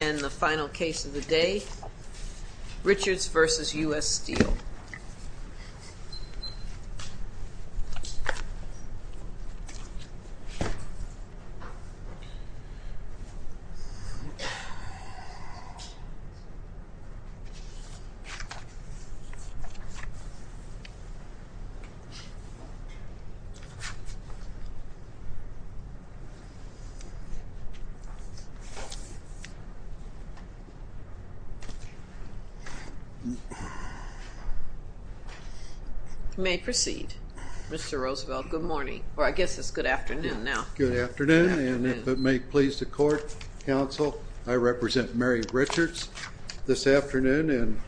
And the final case of the day, Richards v. U.S. Steel. You may proceed, Mr. Roosevelt. Good morning, or I guess it's good afternoon now. Good afternoon, and if it may please the court, counsel, I represent Mary Richards this afternoon and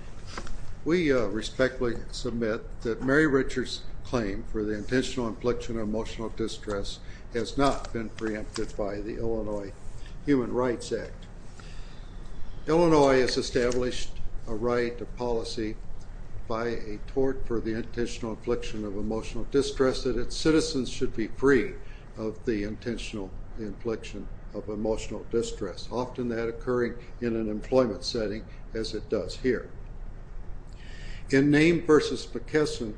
we respectfully submit that Mary Richards' claim for the intentional infliction of emotional distress has not been preempted by the Illinois Human Rights Act. Illinois has established a right to policy by a tort for the intentional infliction of emotional distress that its citizens should be free of the intentional infliction of emotional distress, often that occurring in an employment setting as it does here. In Name v. McKesson,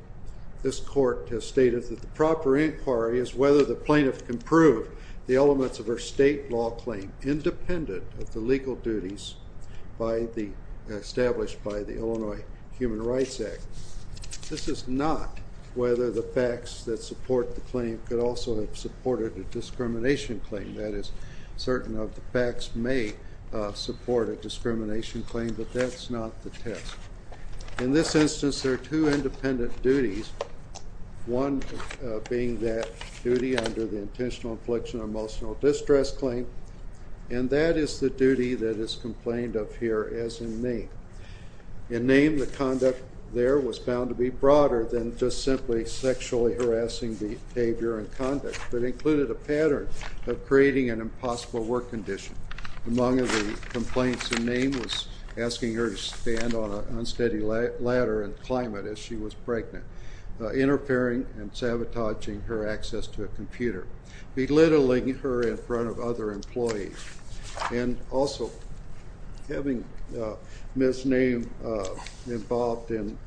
this court has stated that the proper inquiry is whether the plaintiff can prove the elements of her state law claim independent of the legal duties established by the Illinois Human Rights Act. This is not whether the facts that support the claim could also have supported a discrimination claim. That is, certain of the facts may support a discrimination claim, but that's not the test. In this instance, there are two independent duties, one being that duty under the intentional infliction of emotional distress claim, and that is the duty that is complained of here as in Name. In Name, the conduct there was found to be broader than just simply sexually harassing behavior and conduct, but included a pattern of creating an impossible work condition. Among the complaints in Name was asking her to stand on an unsteady ladder and climb it as she was pregnant, interfering and sabotaging her access to a computer, belittling her in front of other employees, and also having Ms. Name involved in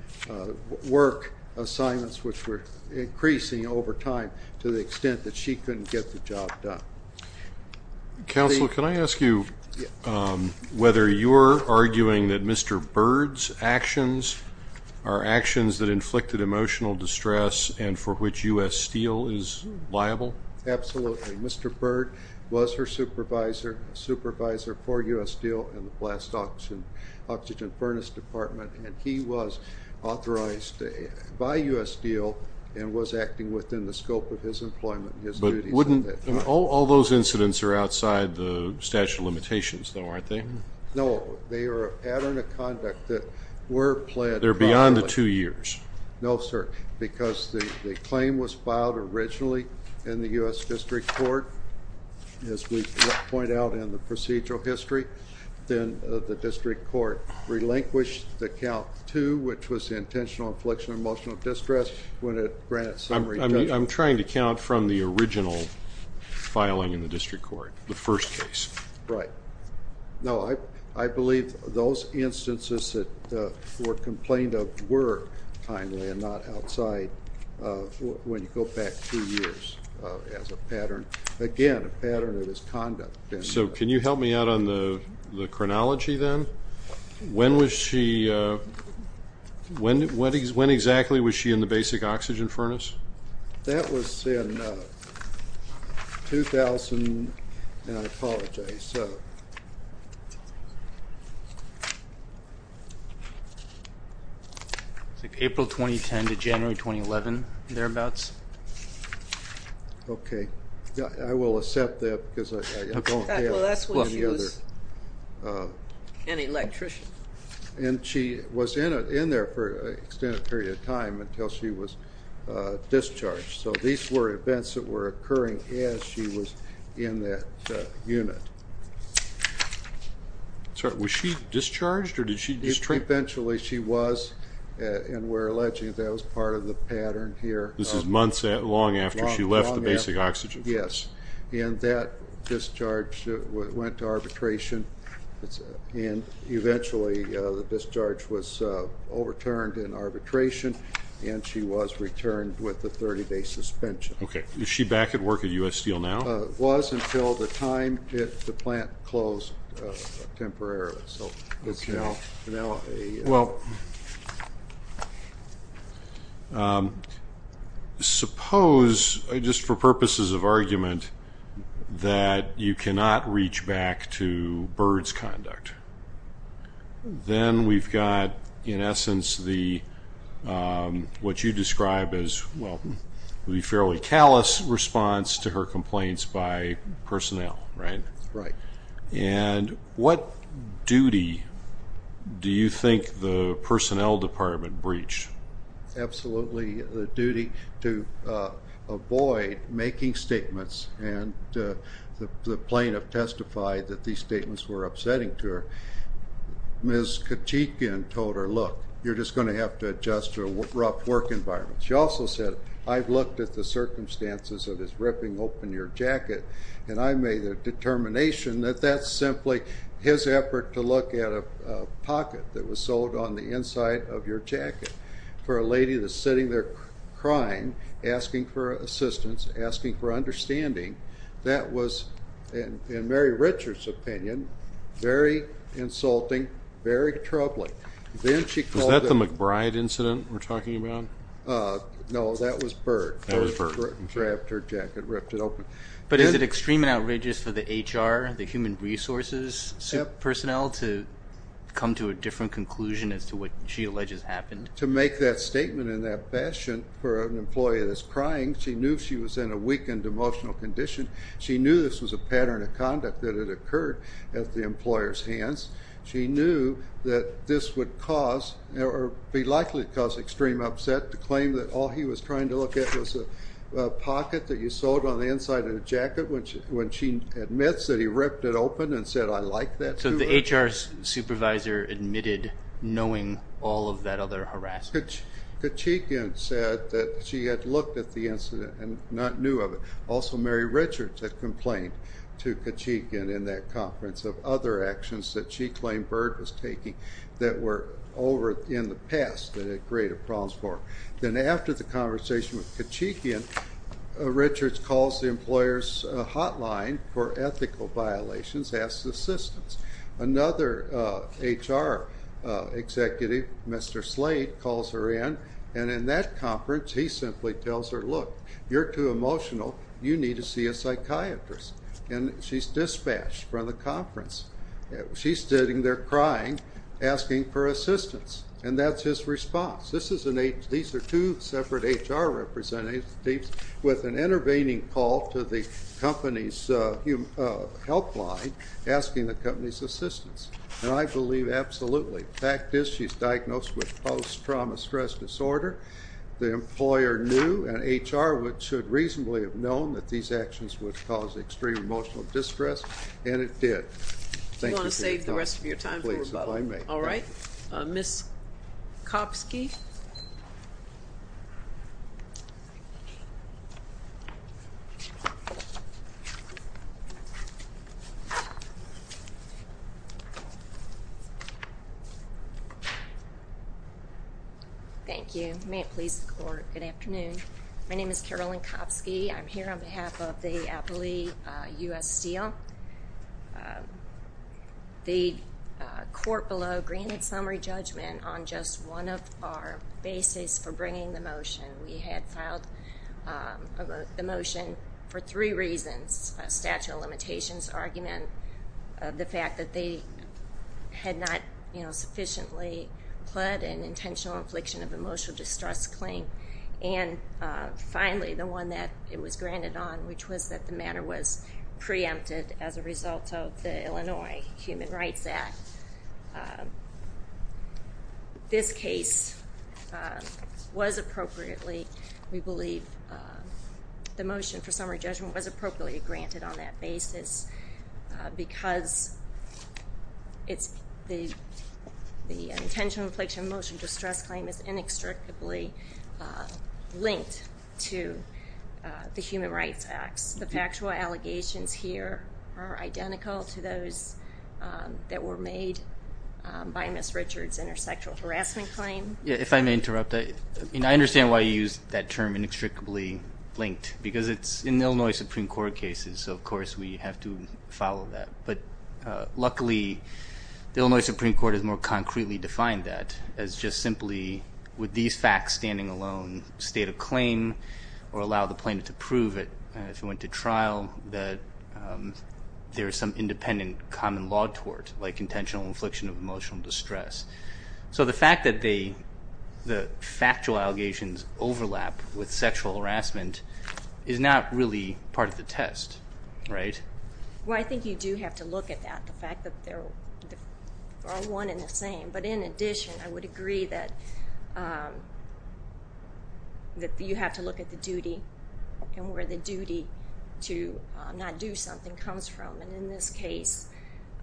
work assignments which were increasing over time to the extent that she couldn't get the job done. Counsel, can I ask you whether you're arguing that Mr. Byrd's actions are actions that inflicted emotional distress and for which U.S. Steel is liable? Absolutely. Mr. Byrd was her supervisor, a supervisor for U.S. Steel in the Blast Oxygen Furnace Department, and he was authorized by U.S. Steel and was acting within the scope of his employment and his duties. But wouldn't – all those incidents are outside the statute of limitations, though, aren't they? No, they are a pattern of conduct that were pled – They're beyond the two years. No, sir, because the claim was filed originally in the U.S. District Court, as we point out in the procedural history. Then the District Court relinquished the count to which was the intentional infliction of emotional distress when it granted summary judgment. I'm trying to count from the original filing in the District Court, the first case. Right. No, I believe those instances that were complained of were timely and not outside when you go back two years as a pattern, again, a pattern of his conduct. So can you help me out on the chronology then? When was she – when exactly was she in the basic oxygen furnace? That was in 2000 – and I apologize. It's like April 2010 to January 2011, thereabouts. Okay. I will accept that because I don't have any other – Well, that's when she was an electrician. And she was in there for an extended period of time until she was discharged. So these were events that were occurring as she was in that unit. Was she discharged or did she just – Eventually she was, and we're alleging that was part of the pattern here. This is months long after she left the basic oxygen furnace. Yes. And that discharge went to arbitration, and eventually the discharge was overturned in arbitration, and she was returned with a 30-day suspension. Okay. Is she back at work at U.S. Steel now? Was until the time the plant closed temporarily. Okay. Well, suppose, just for purposes of argument, that you cannot reach back to Byrd's conduct. Then we've got, in essence, what you describe as the fairly callous response to her complaints by personnel, right? Right. And what duty do you think the personnel department breached? Absolutely the duty to avoid making statements, and the plaintiff testified that these statements were upsetting to her. Ms. Kachikian told her, look, you're just going to have to adjust to a rough work environment. She also said, I've looked at the circumstances of his ripping open your jacket, and I made the determination that that's simply his effort to look at a pocket that was sewed on the inside of your jacket. For a lady that's sitting there crying, asking for assistance, asking for understanding, that was, in Mary Richard's opinion, very insulting, very troubling. Was that the McBride incident we're talking about? No, that was Byrd. That was Byrd. Grabbed her jacket, ripped it open. But is it extreme and outrageous for the HR, the human resources personnel, to come to a different conclusion as to what she alleges happened? To make that statement in that fashion for an employee that's crying, she knew she was in a weakened emotional condition. She knew this was a pattern of conduct that had occurred at the employer's hands. She knew that this would cause, or be likely to cause, extreme upset to claim that all he was trying to look at was a pocket that you sewed on the inside of the jacket when she admits that he ripped it open and said, I like that. So the HR supervisor admitted knowing all of that other harassment? Kachikian said that she had looked at the incident and not knew of it. Also, Mary Richard had complained to Kachikian in that conference of other actions that she claimed Byrd was taking that were over in the past that had created problems for her. Then after the conversation with Kachikian, Richards calls the employer's hotline for ethical violations, asks assistance. Another HR executive, Mr. Slade, calls her in, and in that conference, he simply tells her, look, you're too emotional. You need to see a psychiatrist. And she's dispatched from the conference. She's sitting there crying, asking for assistance, and that's his response. These are two separate HR representatives with an intervening call to the company's helpline asking the company's assistance. And I believe absolutely. The fact is she's diagnosed with post-trauma stress disorder. The employer knew, and HR should reasonably have known that these actions would cause extreme emotional distress, and it did. Thank you for your time. Do you want to save the rest of your time for rebuttal? Please, if I may. All right. Ms. Kopsky. Thank you. May it please the court. Good afternoon. My name is Carolyn Kopsky. I'm here on behalf of the Appley U.S. Steel. The court below granted summary judgment on just one of our bases for bringing the motion. We had filed the motion for three reasons, a statute of limitations argument, the fact that they had not sufficiently pled an intentional infliction of emotional distress claim, and finally, the one that it was granted on, which was that the matter was preempted as a result of the Illinois Human Rights Act. This case was appropriately, we believe, the motion for summary judgment was appropriately granted on that basis because the intentional infliction of emotional distress claim is inextricably linked to the Human Rights Act. The factual allegations here are identical to those that were made by Ms. Richards in her sexual harassment claim. If I may interrupt, I understand why you used that term inextricably linked, because it's in Illinois Supreme Court cases. So, of course, we have to follow that. But luckily, the Illinois Supreme Court has more concretely defined that as just simply with these facts standing alone, state a claim or allow the plaintiff to prove it if it went to trial that there is some independent common law tort, like intentional infliction of emotional distress. So the fact that the factual allegations overlap with sexual harassment is not really part of the test, right? Well, I think you do have to look at that, the fact that they're all one and the same. But in addition, I would agree that you have to look at the duty and where the duty to not do something comes from. And in this case,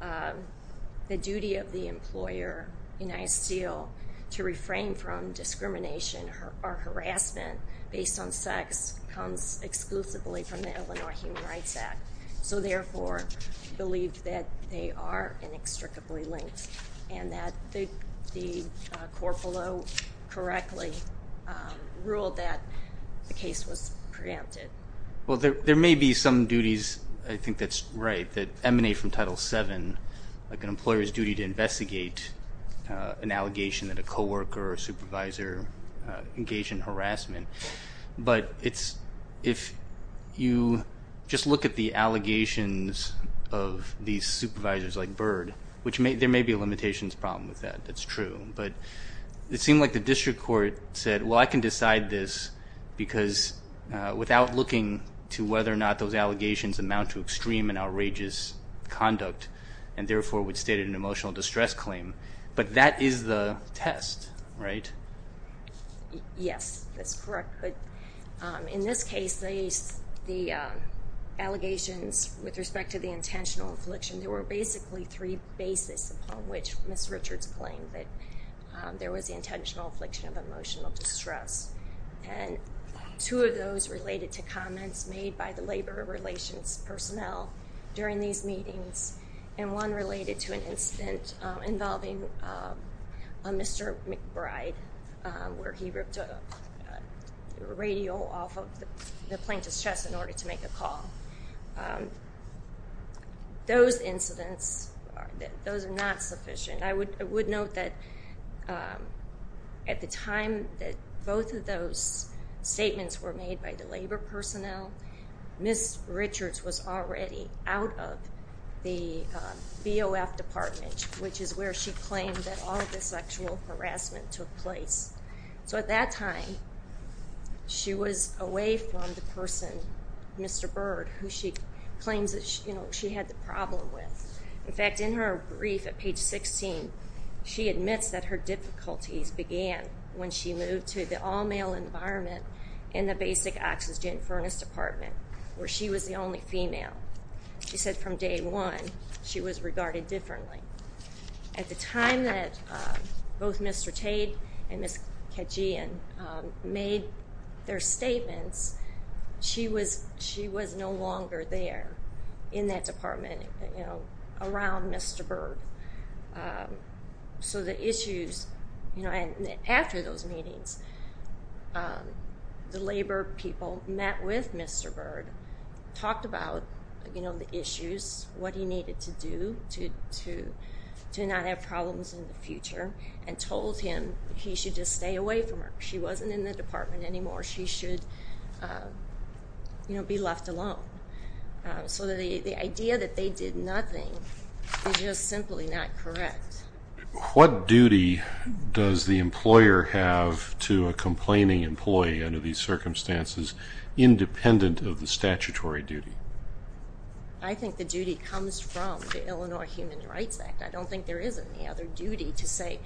the duty of the employer, United Steel, to refrain from discrimination or harassment based on sex comes exclusively from the Illinois Human Rights Act. So, therefore, I believe that they are inextricably linked and that the court below correctly ruled that the case was preempted. Well, there may be some duties, I think that's right, that emanate from Title VII, like an employer's duty to investigate an allegation that a co-worker or a supervisor engaged in harassment. But if you just look at the allegations of these supervisors like Byrd, which there may be a limitations problem with that. That's true. But it seemed like the district court said, well, I can decide this because without looking to whether or not those allegations amount to extreme and outrageous conduct and, therefore, would state an emotional distress claim. But that is the test, right? Yes, that's correct. But in this case, the allegations with respect to the intentional affliction, there were basically three bases upon which Ms. Richards claimed that there was intentional affliction of emotional distress. And two of those related to comments made by the labor relations personnel during these meetings and one related to an incident involving a Mr. McBride where he ripped a radio off of the plaintiff's chest in order to make a call. Those incidents, those are not sufficient. I would note that at the time that both of those statements were made by the labor personnel, Ms. Richards was already out of the BOF department, which is where she claimed that all of the sexual harassment took place. So at that time, she was away from the person, Mr. Bird, who she claims that she had the problem with. In fact, in her brief at page 16, she admits that her difficulties began when she moved to the all-male environment in the basic oxygen furnace department where she was the only female. She said from day one she was regarded differently. At the time that both Mr. Tate and Ms. Kejian made their statements, she was no longer there in that department around Mr. Bird. After those meetings, the labor people met with Mr. Bird, talked about the issues, what he needed to do to not have problems in the future, and told him he should just stay away from her. She wasn't in the department anymore. She should be left alone. So the idea that they did nothing is just simply not correct. What duty does the employer have to a complaining employee under these circumstances, independent of the statutory duty? I think the duty comes from the Illinois Human Rights Act. I don't think there is any other duty to say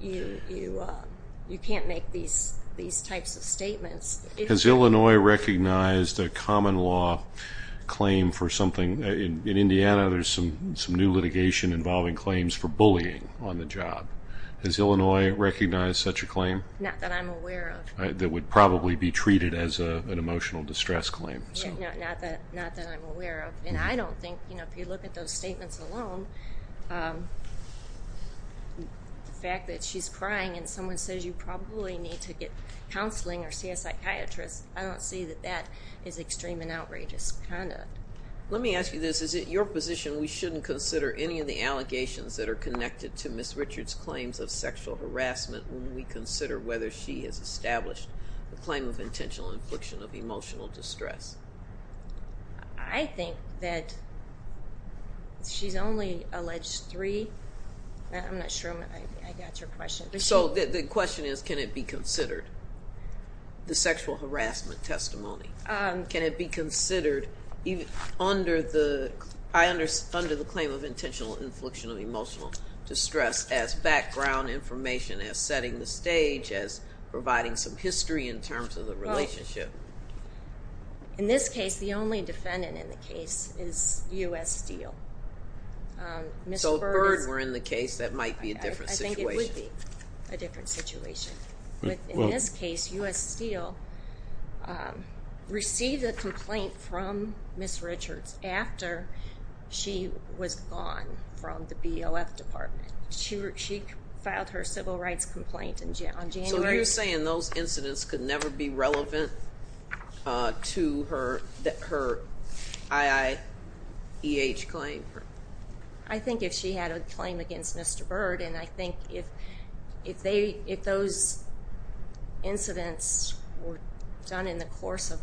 you can't make these types of statements. Has Illinois recognized a common law claim for something? In Indiana, there's some new litigation involving claims for bullying on the job. Has Illinois recognized such a claim? Not that I'm aware of. That would probably be treated as an emotional distress claim. Not that I'm aware of. If you look at those statements alone, the fact that she's crying and someone says you probably need to get counseling or see a psychiatrist, I don't see that that is extreme and outrageous conduct. Let me ask you this. Is it your position we shouldn't consider any of the allegations that are connected to Ms. Richards' claims of sexual harassment when we consider whether she has established a claim of intentional infliction of emotional distress? I think that she's only alleged three. I'm not sure I got your question. The question is can it be considered, the sexual harassment testimony? Can it be considered under the claim of intentional infliction of emotional distress as background information, as setting the stage, as providing some history in terms of the relationship? In this case, the only defendant in the case is U.S. Steele. So if Byrd were in the case, that might be a different situation. I think it would be a different situation. In this case, U.S. Steele received a complaint from Ms. Richards after she was gone from the BOF department. She filed her civil rights complaint in January. So are you saying those incidents could never be relevant to her IIEH claim? I think if she had a claim against Mr. Byrd, and I think if those incidents were done in the course of,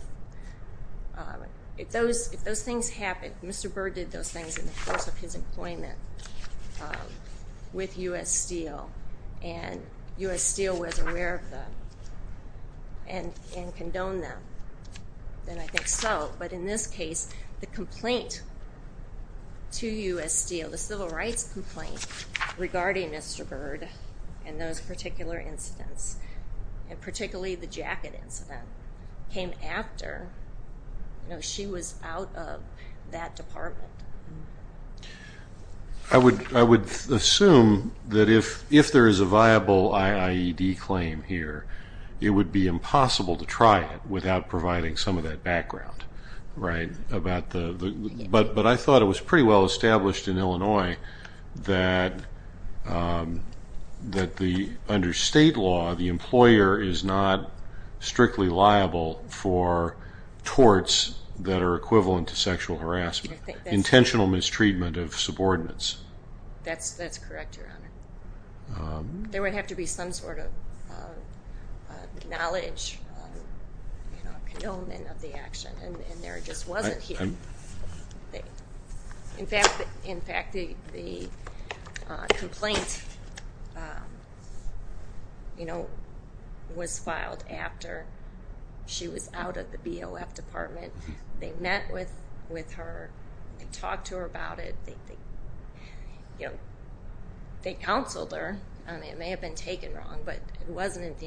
if those things happened, Mr. Byrd did those things in the course of his employment with U.S. Steele, and U.S. Steele was aware of them and condoned them, then I think so. But in this case, the complaint to U.S. Steele, the civil rights complaint regarding Mr. Byrd and those particular incidents, and particularly the jacket incident, came after she was out of that department. I would assume that if there is a viable IIED claim here, it would be impossible to try it without providing some of that background. But I thought it was pretty well established in Illinois that under state law, the employer is not strictly liable for torts that are equivalent to sexual harassment. Intentional mistreatment of subordinates. That's correct, Your Honor. There would have to be some sort of knowledge, condonement of the action, and there just wasn't here. In fact, the complaint was filed after she was out of the BOF department. They met with her. They talked to her about it. They counseled her. It may have been taken wrong, but it wasn't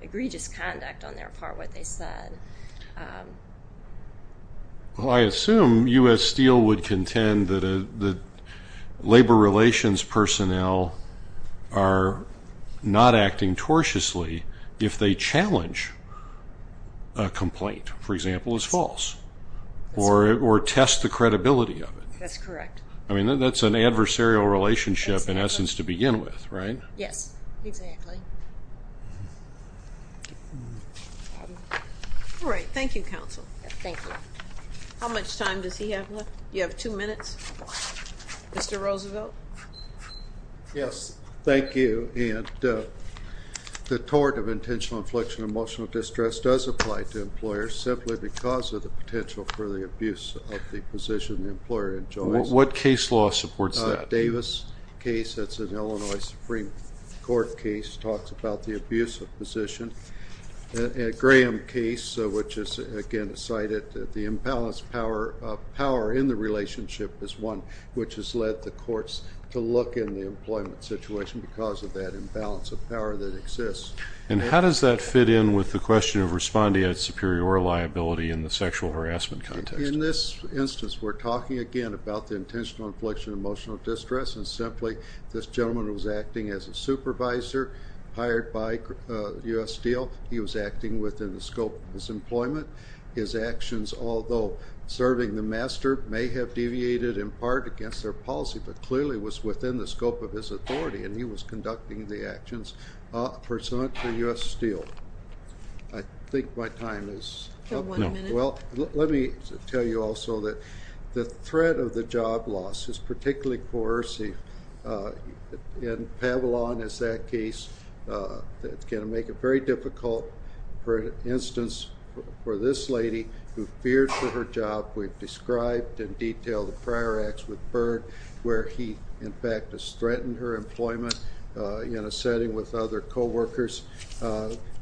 egregious conduct on their part what they said. Well, I assume U.S. Steele would contend that labor relations personnel are not acting tortuously if they challenge a complaint, for example, is false, or test the credibility of it. That's correct. I mean, that's an adversarial relationship, in essence, to begin with, right? Yes, exactly. All right. Thank you, counsel. Thank you. How much time does he have left? You have two minutes. Mr. Roosevelt. Yes. Thank you. And the tort of intentional infliction of emotional distress does apply to employers simply because of the potential for the abuse of the position the employer enjoys. What case law supports that? Davis case, that's an Illinois Supreme Court case, talks about the abuse of position. Graham case, which is, again, cited, the imbalance of power in the relationship is one which has led the courts to look in the employment situation because of that imbalance of power that exists. And how does that fit in with the question of responding at superior liability in the sexual harassment context? In this instance, we're talking, again, about the intentional infliction of emotional distress, and simply this gentleman was acting as a supervisor hired by U.S. Steele. He was acting within the scope of his employment. His actions, although serving the master, may have deviated in part against their policy but clearly was within the scope of his authority, and he was conducting the actions pursuant to U.S. Steele. I think my time is up. You have one minute. Well, let me tell you also that the threat of the job loss is particularly coercive. In Pavilon, as that case, it's going to make it very difficult, for instance, for this lady who feared for her job. We've described in detail the prior acts with Byrd where he, in fact, has threatened her employment in a setting with other coworkers.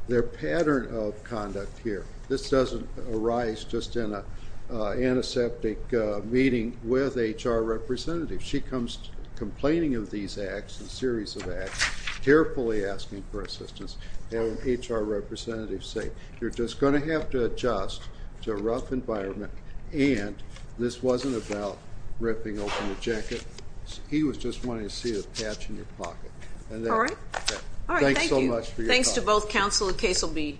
Their pattern of conduct here, this doesn't arise just in an antiseptic meeting with HR representatives. If she comes complaining of these acts, a series of acts, carefully asking for assistance, have an HR representative say, you're just going to have to adjust to a rough environment, and this wasn't about ripping open a jacket. He was just wanting to see a patch in your pocket. All right. All right. Thank you. Thanks so much for your time. Thanks to both Counsel and Caselby.